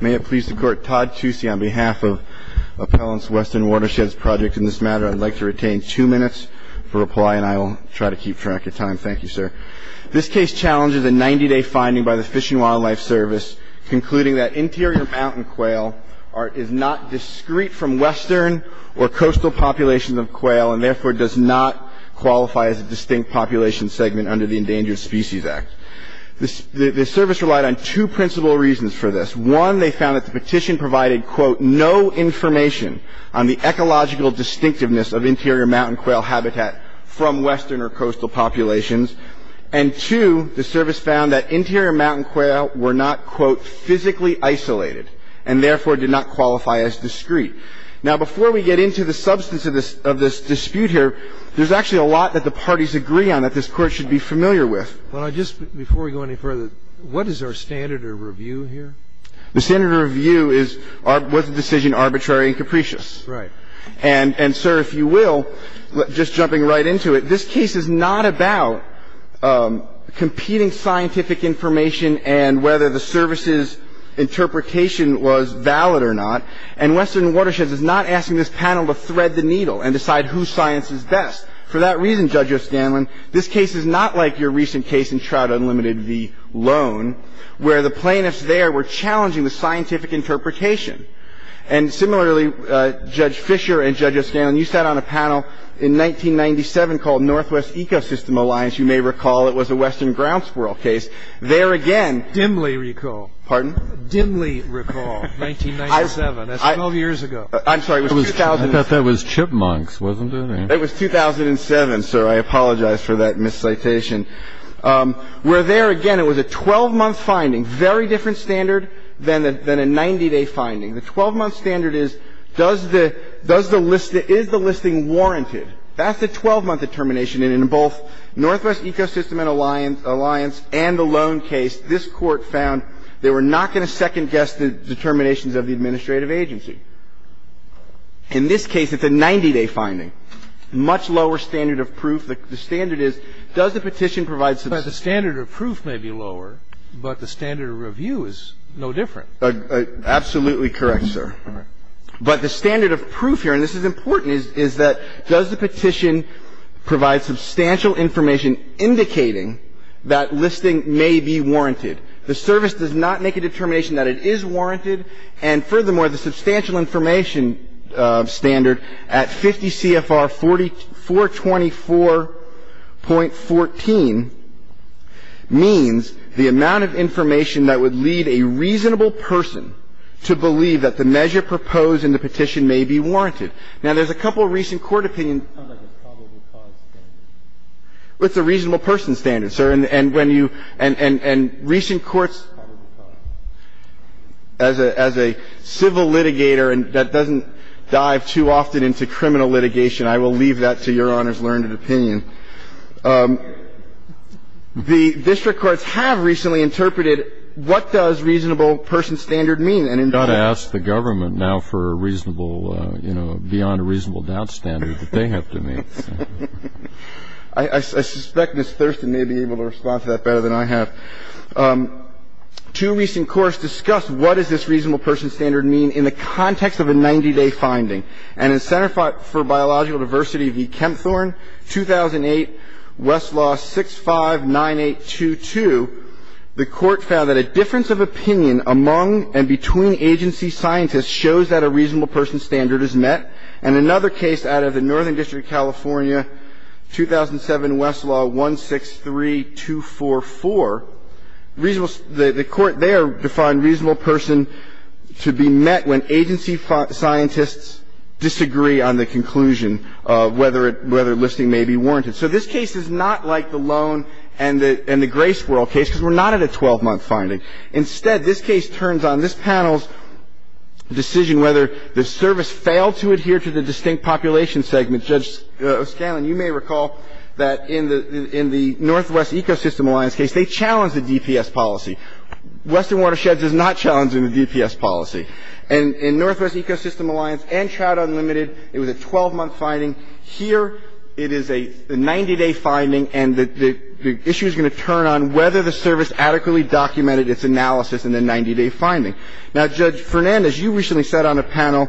May it please the Court, Todd Toosey on behalf of Appellants Western Watersheds Project. In this matter I'd like to retain two minutes for reply and I will try to keep track of time. Thank you, sir. This case challenges a 90-day finding by the Fish and Wildlife Service concluding that interior mountain quail is not discrete from western or coastal populations of quail and therefore does not qualify as a distinct population segment under the Endangered Species Act. The Service relied on two principal reasons for this. One, they found that the petition provided, quote, no information on the ecological distinctiveness of interior mountain quail habitat from western or coastal populations. And two, the Service found that interior mountain quail were not, quote, physically isolated and therefore did not qualify as discrete. Now before we get into the substance of this dispute here, there's actually a lot that the parties agree on that this Court should be familiar with. Well, just before we go any further, what is our standard of review here? The standard of review is was the decision arbitrary and capricious. Right. And, sir, if you will, just jumping right into it, this case is not about competing scientific information and whether the Service's interpretation was valid or not. And Western Watersheds is not asking this panel to thread the needle and decide whose science is best. For that reason, Judge O'Scanlan, this case is not like your recent case in Trout Unlimited v. Lone, where the plaintiffs there were challenging the scientific interpretation. And similarly, Judge Fischer and Judge O'Scanlan, you sat on a panel in 1997 called Northwest Ecosystem Alliance. You may recall it was a western grounds squirrel case. There again- Dimly recall. Pardon? Dimly recall 1997. That's 12 years ago. I'm sorry, it was 2000- I thought that was chipmunks, wasn't it? It was 2007, sir. I apologize for that miscitation. Where there again, it was a 12-month finding, very different standard than a 90-day finding. The 12-month standard is, does the list the – is the listing warranted? That's a 12-month determination. And in both Northwest Ecosystem Alliance and the Lone case, this Court found they were not going to second-guess the determinations of the administrative agency. In this case, it's a 90-day finding. Much lower standard of proof. The standard is, does the petition provide substantial- But the standard of proof may be lower, but the standard of review is no different. Absolutely correct, sir. All right. But the standard of proof here, and this is important, is that does the petition provide substantial information indicating that listing may be warranted? The service does not make a determination that it is warranted. And furthermore, the substantial information standard at 50 CFR 424.14 means the amount of information that would lead a reasonable person to believe that the measure proposed in the petition may be warranted. Now, there's a couple of recent court opinions- Sounds like a probable cause standard. It's a reasonable person standard, sir. And when you – and recent courts- Probable cause. As a civil litigator, and that doesn't dive too often into criminal litigation, I will leave that to Your Honor's learned opinion. The district courts have recently interpreted what does reasonable person standard mean, and in fact- You've got to ask the government now for a reasonable, you know, beyond a reasonable doubt standard that they have to meet. I suspect Ms. Thurston may be able to respond to that better than I have. Two recent courts discussed what does this reasonable person standard mean in the context of a 90-day finding. And in Center for Biological Diversity v. Kempthorne, 2008, Westlaw 659822, the Court found that a difference of opinion among and between agency scientists shows that a reasonable person standard is met. And another case out of the Northern District of California, 2007, Westlaw 163244, reasonable – the Court there defined reasonable person to be met when agency scientists disagree on the conclusion of whether it – whether listing may be warranted. So this case is not like the Loan and the Grace World case because we're not at a 12-month finding. Instead, this case turns on this panel's decision whether the service failed to adhere to the distinct population segment. Judge O'Scanlan, you may recall that in the – in the Northwest Ecosystem Alliance case, they challenged the DPS policy. Western Watersheds is not challenging the DPS policy. And in Northwest Ecosystem Alliance and Trout Unlimited, it was a 12-month finding. Here, it is a 90-day finding, and the issue is going to turn on whether the service adequately documented its analysis in the 90-day finding. Now, Judge Fernandez, you recently sat on a panel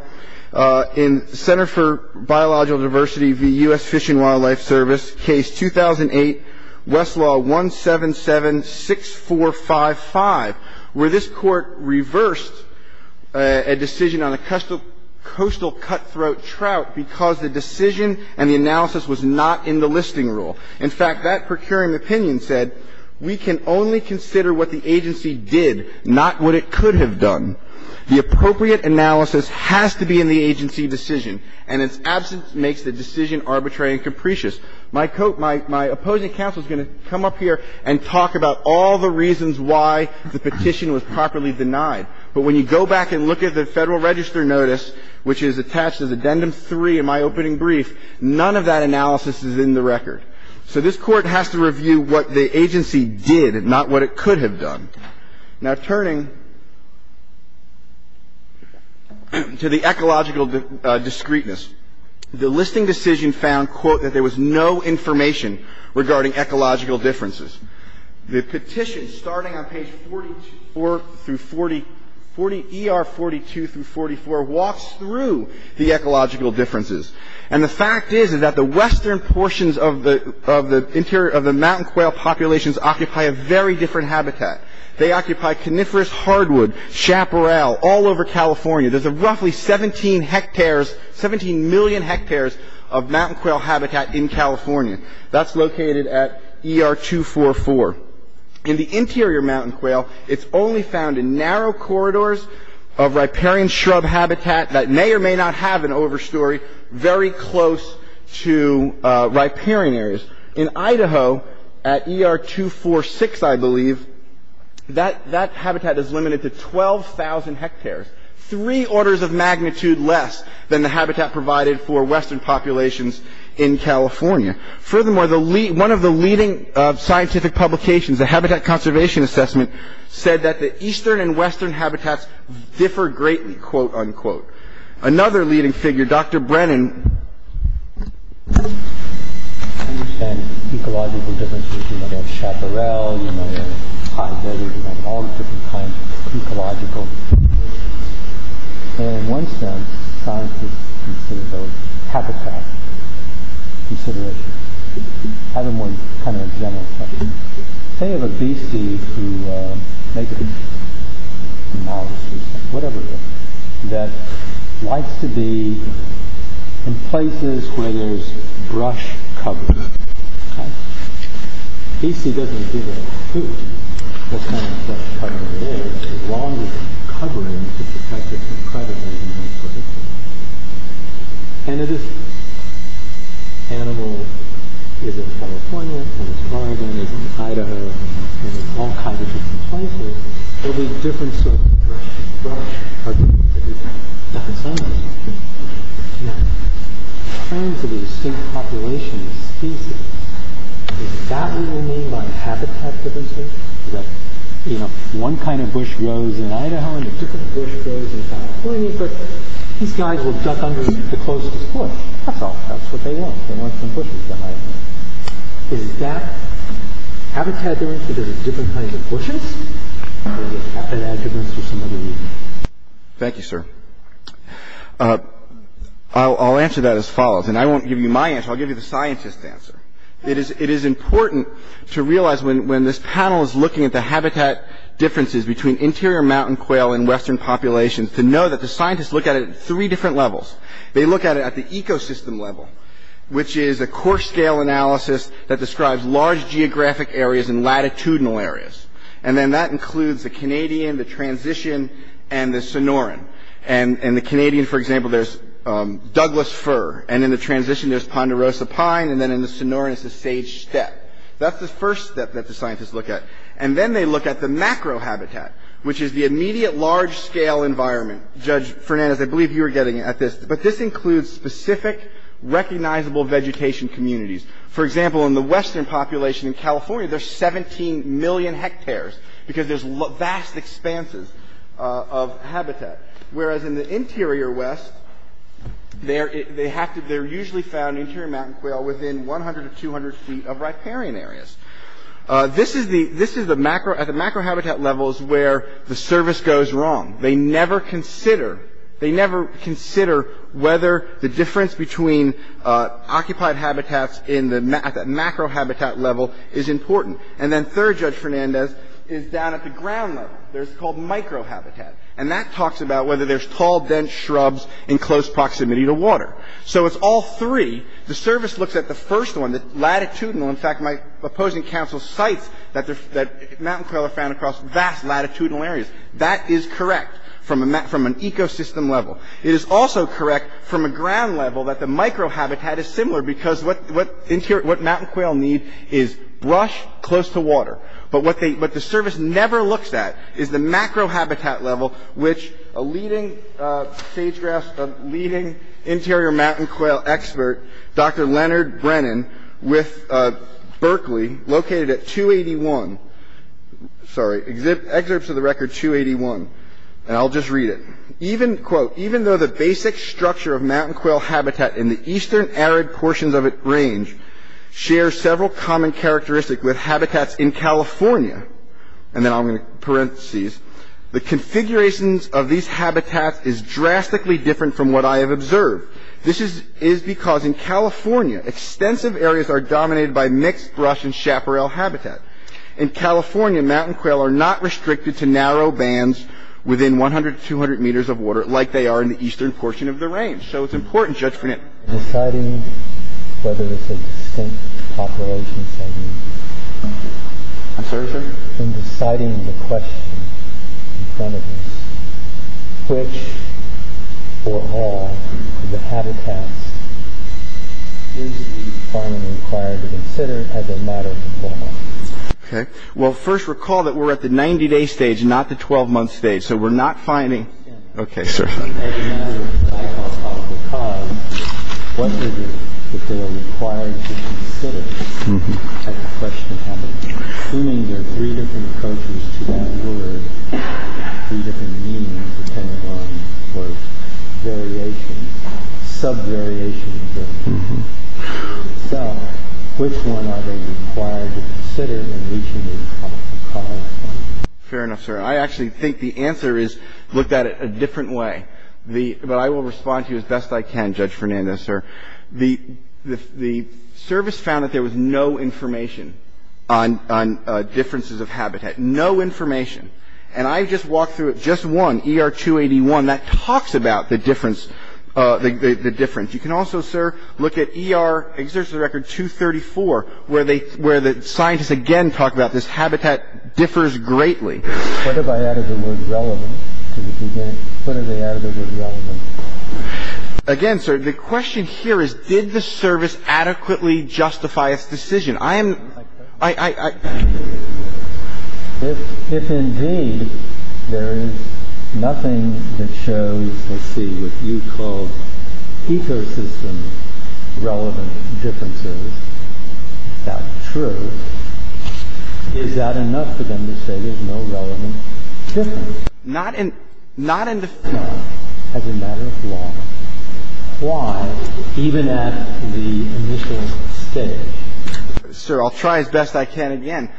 in Center for Biological Diversity v. U.S. Fish and Wildlife Service, case 2008, Westlaw 1776455, where this Court reversed a decision on a coastal cutthroat trout because the decision and the analysis was not in the listing rule. In fact, that procuring opinion said, we can only consider what the agency did, not what it could have done. The appropriate analysis has to be in the agency decision, and its absence makes the decision arbitrary and capricious. My opposing counsel is going to come up here and talk about all the reasons why the petition was properly denied. But when you go back and look at the Federal Register notice, which is attached in my opening brief, none of that analysis is in the record. So this Court has to review what the agency did and not what it could have done. Now, turning to the ecological discreteness, the listing decision found, quote, that there was no information regarding ecological differences. The petition, starting on page 44 through 40, ER 42 through 44, walks through the ecological differences. And the fact is that the western portions of the interior of the mountain quail populations occupy a very different habitat. They occupy coniferous hardwood, chaparral, all over California. There's a roughly 17 hectares, 17 million hectares of mountain quail habitat in California. That's located at ER 244. In the interior mountain quail, it's only found in narrow corridors of riparian shrub habitat that may or may not have an overstory very close to riparian areas. In Idaho, at ER 246, I believe, that habitat is limited to 12,000 hectares, three orders of magnitude less than the habitat provided for western populations in California. Furthermore, one of the leading scientific publications, the Habitat Conservation Assessment, said that the eastern and western habitats differ greatly, quote, unquote. Another leading figure, Dr. Brennan. I understand ecological differences. You know, you have chaparral, you know, you have hydrate, you have all the different kinds of ecological considerations. And in one sense, scientists consider those habitat considerations. I have one kind of general question. Say you have a beastie who makes a mouse or something, whatever it is, that likes to be in places where there's brush cover. A beastie doesn't do that in a coot. What kind of brush cover it is is long enough covering to protect it from predators in those places. And if this animal is in California, and it's primed, and it's in Idaho, and it's all kinds of different places, there'll be a difference of brush, brush, brush. There's nothing scientific about it. You have frames of a distinct population of species. Is that what you mean by habitat differences? That, you know, one kind of bush grows in Idaho, and a different bush grows in California. That's what you mean, but these guys will duck under the closest bush. That's all. That's what they want. They want some bushes behind them. Is that habitat difference that there's a different kind of bushes? Or is it habitat difference for some other reason? Thank you, sir. I'll answer that as follows. And I won't give you my answer. I'll give you the scientist's answer. It is important to realize when this panel is looking at the habitat differences between interior mountain quail and western populations to know that the scientists look at it at three different levels. They look at it at the ecosystem level, which is a core scale analysis that describes large geographic areas and latitudinal areas. And then that includes the Canadian, the transition, and the Sonoran. In the Canadian, for example, there's Douglas fir. And in the transition, there's Ponderosa pine. And then in the Sonoran, it's the sage steppe. That's the first step that the scientists look at. And then they look at the macrohabitat, which is the immediate large-scale environment. Judge Fernandez, I believe you were getting at this. But this includes specific recognizable vegetation communities. For example, in the western population in California, there's 17 million hectares because there's vast expanses of habitat, whereas in the interior west, they're usually found in interior mountain quail within 100 to 200 feet of riparian areas. This is the macrohabitat levels where the service goes wrong. They never consider whether the difference between occupied habitats at the macrohabitat level is important. And then third Judge Fernandez is down at the ground level. It's called microhabitat. And that talks about whether there's tall, dense shrubs in close proximity to water. So it's all three. The service looks at the first one, the latitudinal. In fact, my opposing counsel cites that mountain quail are found across vast latitudinal areas. That is correct from an ecosystem level. It is also correct from a ground level that the microhabitat is similar because what mountain quail need is brush close to water. But what the service never looks at is the macrohabitat level, which a leading sage-grass, a leading interior mountain quail expert, Dr. Leonard Brennan, with Berkeley, located at 281, sorry, excerpts of the record 281. And I'll just read it. Even, quote, even though the basic structure of mountain quail habitat in the eastern arid portions of its range share several common characteristics with habitats in California, and then I'm going to parenthesis, the configurations of these habitats is drastically different from what I have observed. This is because in California, extensive areas are dominated by mixed brush and chaparral habitat. In California, mountain quail are not restricted to narrow bands within 100 to 200 meters of water like they are in the eastern portion of the range. So it's important, Judge Brennan. In deciding whether it's a distinct population setting. I'm sorry, sir? In deciding the question in front of us, which or all of the habitats is the department required to consider as a matter of law? Okay. Well, first recall that we're at the 90-day stage, not the 12-month stage. So we're not finding, okay, sir. As a matter of cause, what is it that they are required to consider? I have a question for you. Assuming there are three different approaches to that word, three different meanings that came along, or variations, sub-variations of the word itself, which one are they required to consider in reaching a cause? Fair enough, sir. I actually think the answer is looked at a different way. But I will respond to you as best I can, Judge Fernandez, sir. The service found that there was no information on differences of habitat. No information. And I just walked through it. Just one, ER-281, that talks about the difference. You can also, sir, look at ER Exertion of the Record 234, where the scientists again talk about this habitat differs greatly. What if I added the word relevant to the beginning? What if they added the word relevant? Again, sir, the question here is did the service adequately justify its decision? I am, I, I, I. If indeed there is nothing that shows, let's see, what you call ecosystem-relevant differences, is that true? Is that enough for them to say there's no relevant difference? Not in, not in the, as a matter of law. Why, even at the initial stage? Sir, I'll try as best I can again.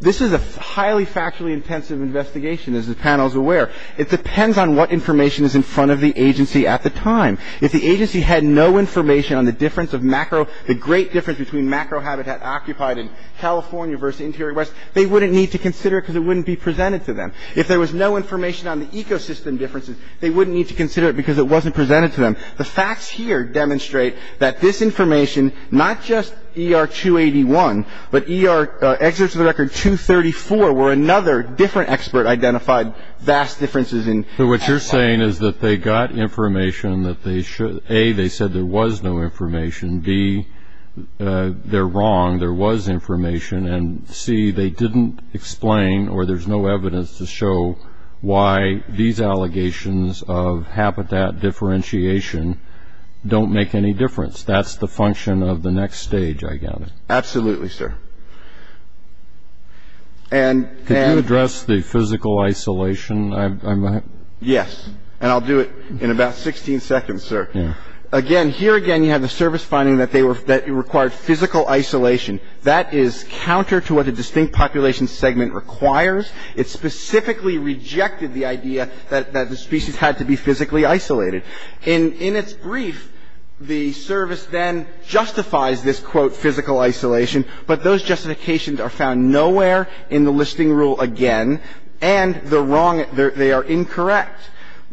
This is a highly factually intensive investigation, as the panel is aware. It depends on what information is in front of the agency at the time. If the agency had no information on the difference of macro, the great difference between macro habitat occupied in California versus Interior West, they wouldn't need to consider it because it wouldn't be presented to them. If there was no information on the ecosystem differences, they wouldn't need to consider it because it wasn't presented to them. The facts here demonstrate that this information, not just ER 281, but ER Exertion of the Record 234, where another different expert identified vast differences in habitat. So what you're saying is that they got information that they should, A, they said there was no information, B, they're wrong, there was information, and C, they didn't explain or there's no evidence to show why these allegations of habitat differentiation don't make any difference. That's the function of the next stage, I gather. Absolutely, sir. Could you address the physical isolation? Yes, and I'll do it in about 16 seconds, sir. Again, here again you have the service finding that it required physical isolation. That is counter to what a distinct population segment requires. It specifically rejected the idea that the species had to be physically isolated. In its brief, the service then justifies this, quote, physical isolation, but those justifications are found nowhere in the listing rule again, and they are incorrect.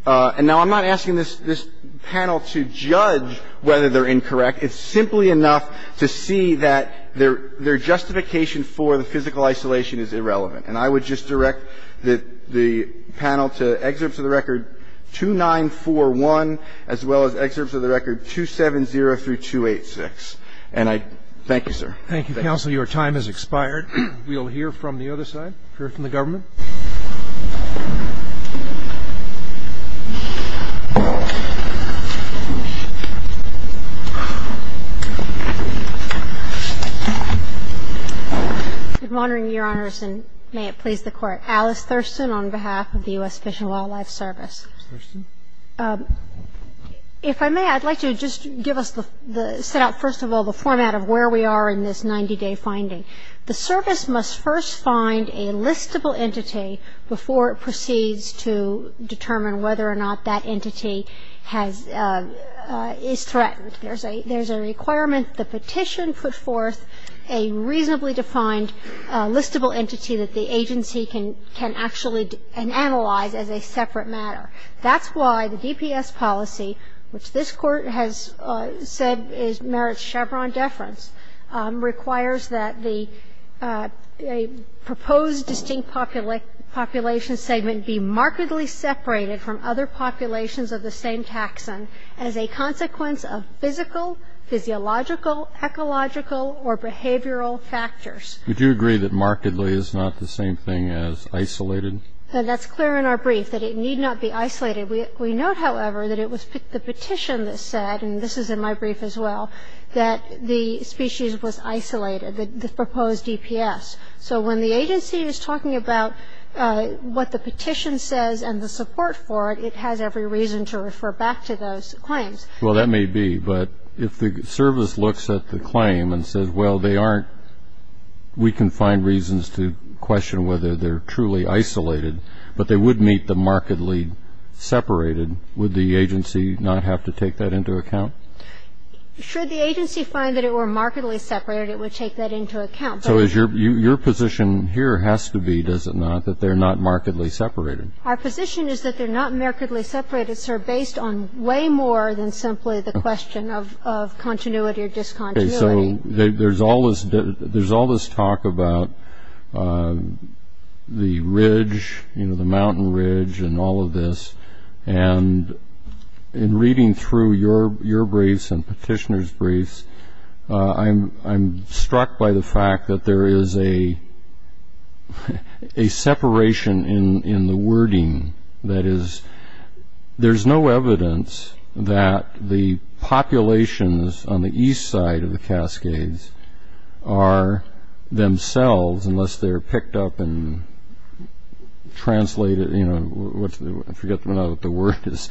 And now I'm not asking this panel to judge whether they're incorrect. It's simply enough to see that their justification for the physical isolation is irrelevant. And I would just direct the panel to Exerts of the Record 2941, as well as Exerts of the Record 270 through 286. And I thank you, sir. Thank you, counsel. Your time has expired. We'll hear from the other side, hear from the government. Ms. Thurston. Good morning, Your Honors, and may it please the Court. Alice Thurston on behalf of the U.S. Fish and Wildlife Service. Ms. Thurston. If I may, I'd like to just give us the set up, first of all, the format of where we are in this 90-day finding. The service must first find a listable entity before it proceeds to determine whether or not that entity has or is threatened. There's a requirement, the petition put forth a reasonably defined listable entity that the agency can actually analyze as a separate matter. That's why the DPS policy, which this Court has said merits Chevron deference, requires that the proposed distinct population segment be markedly separated from other populations of the same taxon as a consequence of physical, physiological, ecological, or behavioral factors. Would you agree that markedly is not the same thing as isolated? That's clear in our brief, that it need not be isolated. We note, however, that it was the petition that said, and this is in my brief as well, that the species was isolated, the proposed DPS. So when the agency is talking about what the petition says and the support for it, it has every reason to refer back to those claims. Well, that may be. But if the service looks at the claim and says, well, they aren't, we can find reasons to question whether they're truly isolated, but they would meet the markedly separated, would the agency not have to take that into account? Should the agency find that it were markedly separated, it would take that into account. So your position here has to be, does it not, that they're not markedly separated? Our position is that they're not markedly separated, sir, based on way more than simply the question of continuity or discontinuity. Okay. So there's all this talk about the ridge, you know, the mountain ridge and all of this. And in reading through your briefs and petitioners' briefs, I'm struck by the fact that there is a separation in the wording. That is, there's no evidence that the populations on the east side of the Cascades are themselves, unless they're picked up and translated, you know, I forget what the word is,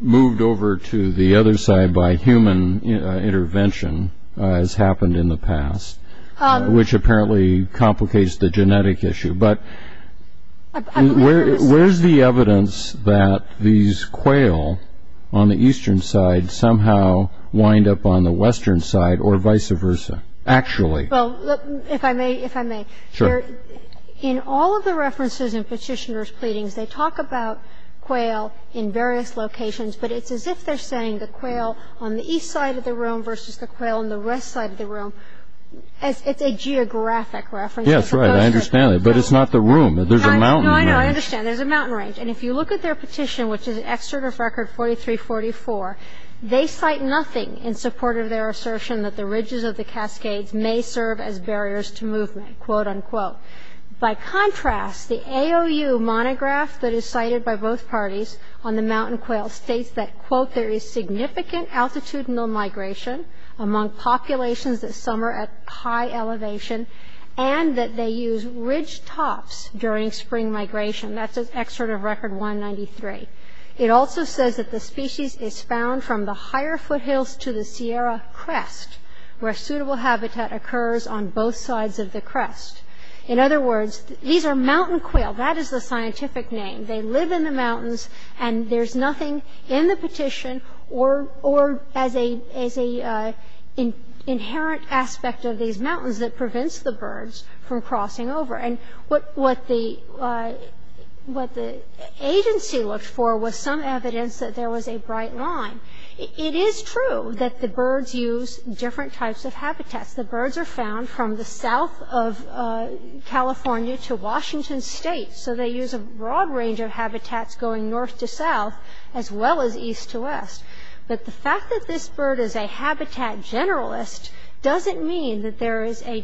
moved over to the other side by human intervention, as happened in the past, which apparently complicates the genetic issue. But where's the evidence that these quail on the eastern side somehow wind up on the western side or vice versa, actually? Well, if I may, if I may. Sure. In all of the references in petitioners' pleadings, they talk about quail in various locations, but it's as if they're saying the quail on the east side of the room versus the quail on the west side of the room. It's a geographic reference. Yes, right. I understand that. But it's not the room. There's a mountain range. No, I know. I understand. There's a mountain range. And if you look at their petition, which is an excerpt of Record 4344, they cite nothing in support of their assertion that the ridges of the Cascades may serve as barriers to movement, quote, unquote. By contrast, the AOU monograph that is cited by both parties on the mountain quail states that, quote, there is significant altitudinal migration among populations that summer at high elevation and that they use ridge tops during spring migration. That's an excerpt of Record 193. It also says that the species is found from the higher foothills to the Sierra crest, where suitable habitat occurs on both sides of the crest. In other words, these are mountain quail. That is the scientific name. They live in the mountains, and there's nothing in the petition or as an inherent aspect of these mountains that prevents the birds from crossing over. And what the agency looked for was some evidence that there was a bright line. It is true that the birds use different types of habitats. The birds are found from the south of California to Washington State. So they use a broad range of habitats going north to south, as well as east to west. But the fact that this bird is a habitat generalist doesn't mean that there is a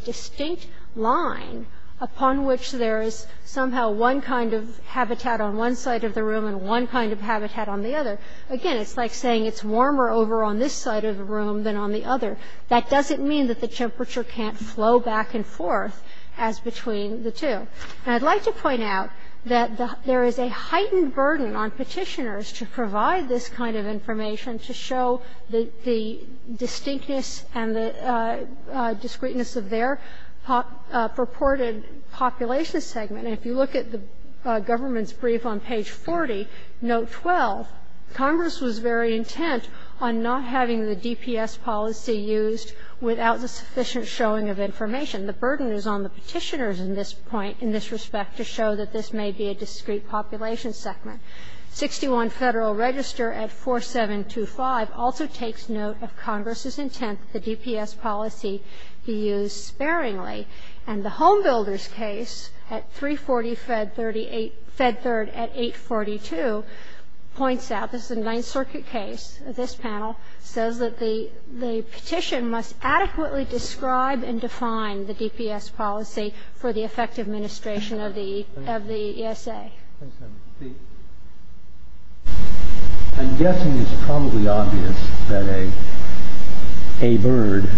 one which there is somehow one kind of habitat on one side of the room and one kind of habitat on the other. Again, it's like saying it's warmer over on this side of the room than on the other. That doesn't mean that the temperature can't flow back and forth as between the two. And I'd like to point out that there is a heightened burden on petitioners to provide this kind of information to show the distinctness and the discreteness of their purported population segment. If you look at the government's brief on page 40, note 12, Congress was very intent on not having the DPS policy used without the sufficient showing of information. The burden is on the petitioners in this point, in this respect, to show that this may be a discrete population segment. 61 Federal Register at 4725 also takes note of Congress's intent that the DPS policy be used sparingly. And the Home Builders case at 340 Fed 38, Fed Third at 842 points out, this is a Ninth Circuit case, this panel, says that the petition must adequately describe and define the DPS policy for the effective administration of the ESA. I'm guessing it's probably obvious that a bird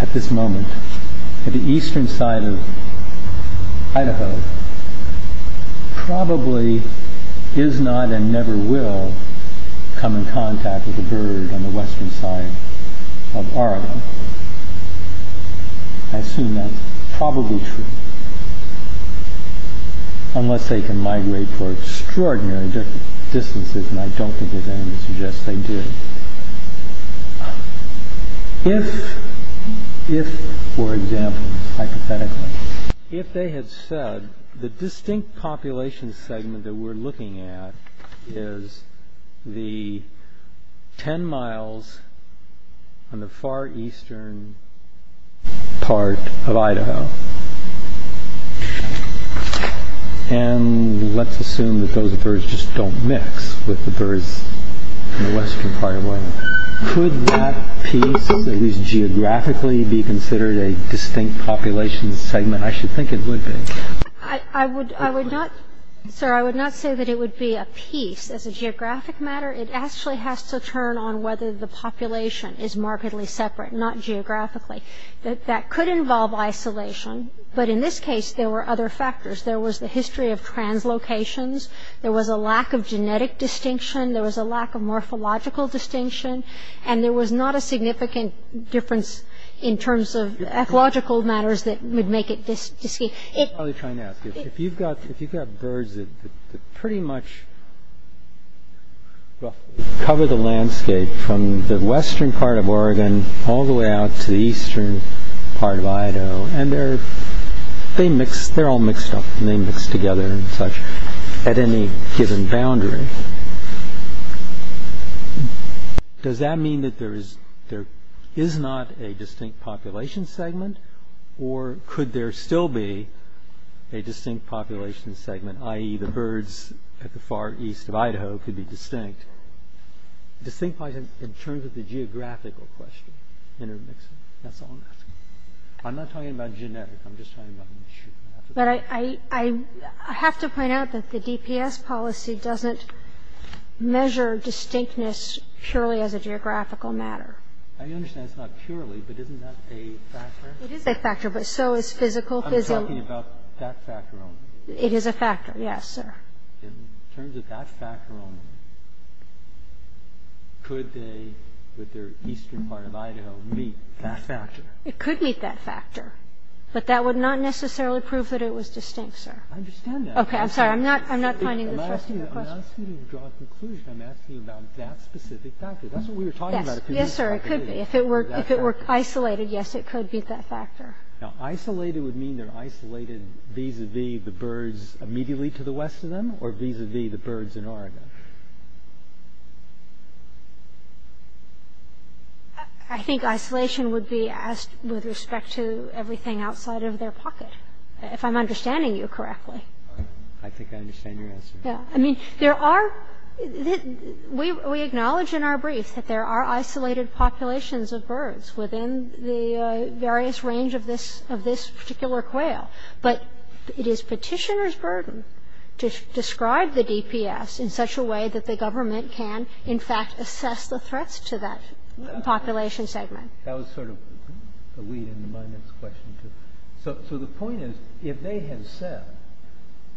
at this moment at the eastern side of Idaho probably is not and never will come in contact with a bird on the western side of Oregon. I assume that's probably true. Unless they can migrate for extraordinary distances, and I don't think there's anything to suggest they do. If, for example, hypothetically, if they had said the distinct population segment that we're looking at is the 10 miles on the far eastern part of Idaho, and let's assume that those birds just don't mix with the birds on the western part of Oregon, could that piece, at least geographically, be considered a distinct population segment? I should think it would be. I would not, sir, I would not say that it would be a piece. As a geographic matter, it actually has to turn on whether the population is markedly separate, not geographically. That could involve isolation. But in this case, there were other factors. There was the history of translocations. There was a lack of genetic distinction. There was a lack of morphological distinction. And there was not a significant difference in terms of ecological matters that would make it distinct. I'm probably trying to ask you, if you've got birds that pretty much cover the landscape from the western part of Oregon all the way out to the eastern part of Idaho, and they're all mixed up and they mix together and such at any given boundary, does that mean that there is not a distinct population segment? Or could there still be a distinct population segment, i.e., the birds at the far east of Idaho could be distinct? Distinct in terms of the geographical question, intermixing. That's all I'm asking. I'm not talking about genetic. I'm just talking about... But I have to point out that the DPS policy doesn't measure distinctness purely as a geographical matter. I understand it's not purely, but isn't that a factor? It is a factor, but so is physical. I'm talking about that factor only. It is a factor. Yes, sir. In terms of that factor only, could they, with their eastern part of Idaho, meet that factor? It could meet that factor. But that would not necessarily prove that it was distinct, sir. I understand that. Okay. I'm sorry. I'm not finding the thrust of your question. I'm not asking you to draw a conclusion. I'm asking you about that specific factor. That's what we were talking about. Yes, sir. It could be. If it were isolated, yes, it could meet that factor. Now, isolated would mean they're isolated vis-à-vis the birds immediately to the west of them or vis-à-vis the birds in Oregon? I think isolation would be with respect to everything outside of their pocket, if I'm understanding you correctly. I think I understand your answer. Yes. I mean, there are... within the various range of this particular quail. But it is petitioner's burden to describe the DPS in such a way that the government can, in fact, assess the threats to that population segment. That was sort of the lead into my next question, too. So the point is, if they had said,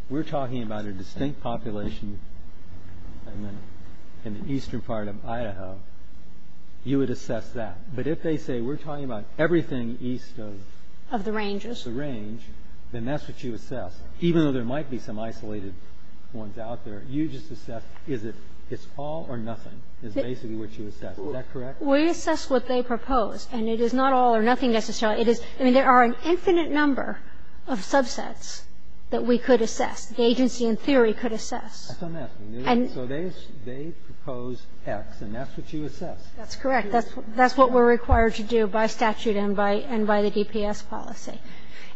we're talking about a distinct population in the eastern part of Idaho, you would assess that. But if they say we're talking about everything east of... Of the ranges. ...of the range, then that's what you assess. Even though there might be some isolated ones out there, you just assess is it all or nothing is basically what you assess. Is that correct? We assess what they propose, and it is not all or nothing necessarily. I mean, there are an infinite number of subsets that we could assess, the agency in theory could assess. That's what I'm asking. So they propose X, and that's what you assess. That's correct. That's what we're required to do by statute and by the DPS policy.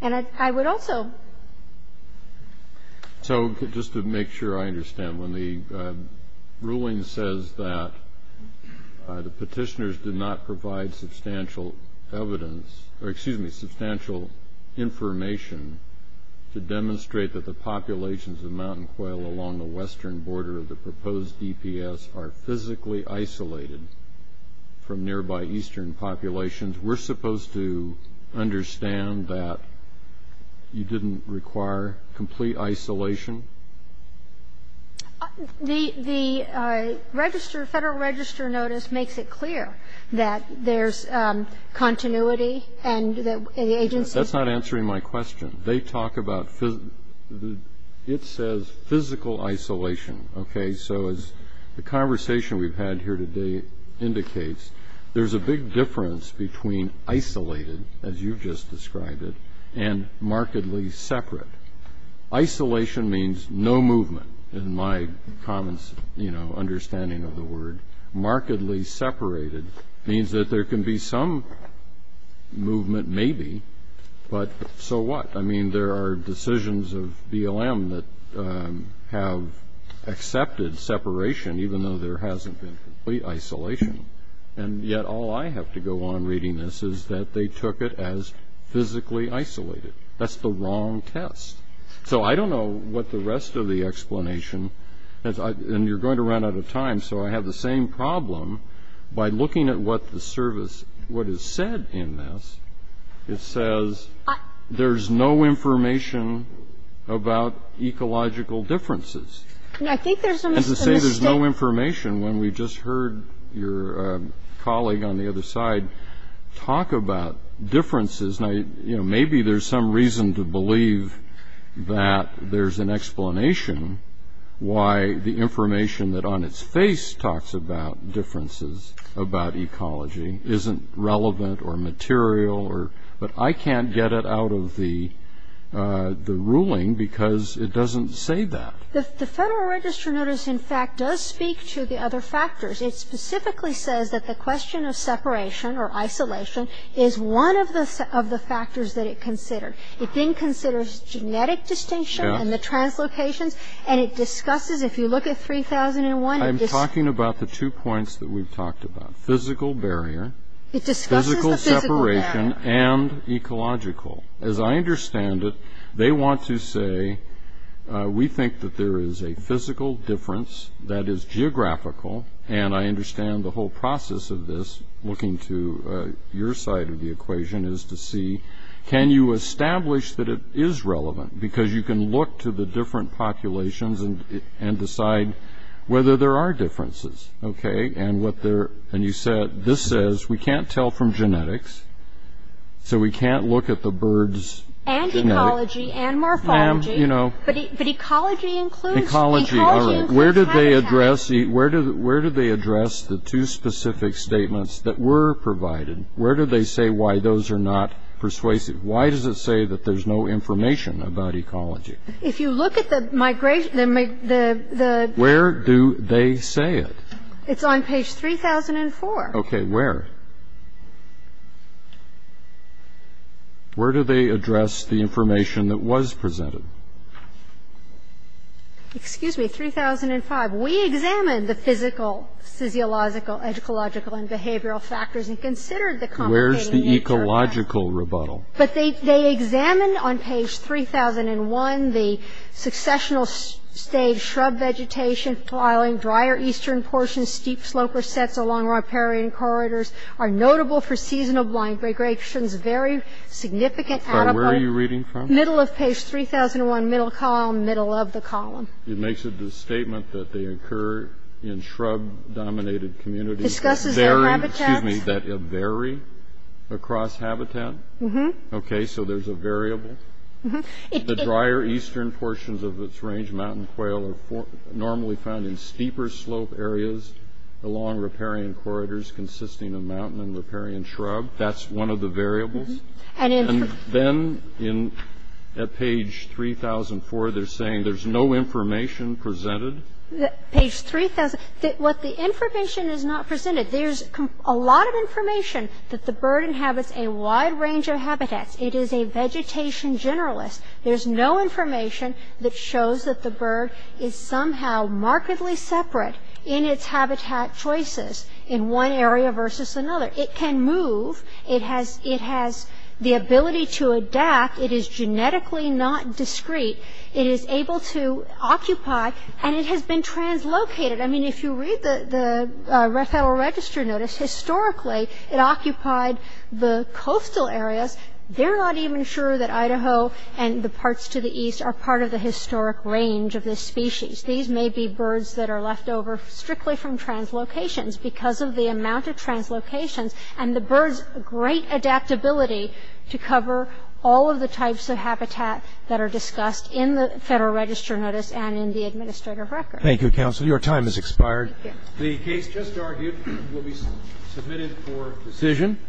And I would also... So just to make sure I understand, when the ruling says that the petitioners did not provide substantial evidence, or excuse me, substantial information to demonstrate that the populations of mountain quail along the western border of the proposed DPS are physically isolated from nearby eastern populations, we're supposed to understand that you didn't require complete isolation? The Federal Register notice makes it clear that there's continuity and the agency... That's not answering my question. They talk about... It says physical isolation, okay? So as the conversation we've had here today indicates, there's a big difference between isolated, as you've just described it, and markedly separate. Isolation means no movement, in my common understanding of the word. Markedly separated means that there can be some movement maybe, but so what? I mean, there are decisions of BLM that have accepted separation, even though there hasn't been complete isolation. And yet all I have to go on reading this is that they took it as physically isolated. That's the wrong test. So I don't know what the rest of the explanation... And you're going to run out of time, so I have the same problem. By looking at what the service, what is said in this, it says there's no information about ecological differences. And to say there's no information when we just heard your colleague on the other side talk about differences, maybe there's some reason to believe that there's an explanation why the information that on its face talks about differences about ecology isn't relevant or material. But I can't get it out of the ruling because it doesn't say that. The Federal Register notice, in fact, does speak to the other factors. It specifically says that the question of separation or isolation is one of the factors that it considered. It then considers genetic distinction and the translocations, and it discusses, if you look at 3001... I'm talking about the two points that we've talked about, physical barrier, physical separation, and ecological. As I understand it, they want to say, we think that there is a physical difference that is geographical, and I understand the whole process of this, looking to your side of the equation, and the question is to see, can you establish that it is relevant? Because you can look to the different populations and decide whether there are differences. And you said, this says, we can't tell from genetics, so we can't look at the birds' genetics. And ecology and morphology. But ecology includes... Where did they address the two specific statements that were provided? Where do they say why those are not persuasive? Why does it say that there's no information about ecology? If you look at the migration... Where do they say it? It's on page 3004. Okay, where? Where do they address the information that was presented? Excuse me, 3005. We examined the physical, physiological, ecological, and behavioral factors and considered the complicated nature of that. Where's the ecological rebuttal? But they examined, on page 3001, the successional stage, shrub vegetation, dry or eastern portions, steep sloper sets along riparian corridors are notable for seasonal blind migrations, very significant... Where are you reading from? Middle of page 3001, middle column, middle of the column. It makes it the statement that they occur in shrub-dominated communities. It discusses their habitats. Excuse me, that vary across habitat? Mm-hmm. Okay, so there's a variable? Mm-hmm. The drier eastern portions of its range, mountain quail, are normally found in steeper slope areas along riparian corridors consisting of mountain and riparian shrub. That's one of the variables? Mm-hmm. And then at page 3004, they're saying there's no information presented? Page 3004, what the information is not presented, there's a lot of information that the bird inhabits a wide range of habitats. It is a vegetation generalist. There's no information that shows that the bird is somehow markedly separate in its habitat choices in one area versus another. It can move. It has the ability to adapt. It is genetically not discrete. It is able to occupy, and it has been translocated. I mean, if you read the Federal Register notice, historically it occupied the coastal areas. They're not even sure that Idaho and the parts to the east are part of the historic range of this species. These may be birds that are left over strictly from translocations because of the amount of translocations and the bird's great adaptability to cover all of the types of habitat that are discussed in the Federal Register notice and in the administrative record. Thank you, Counsel. Your time has expired. Thank you. The case just argued will be submitted for decision.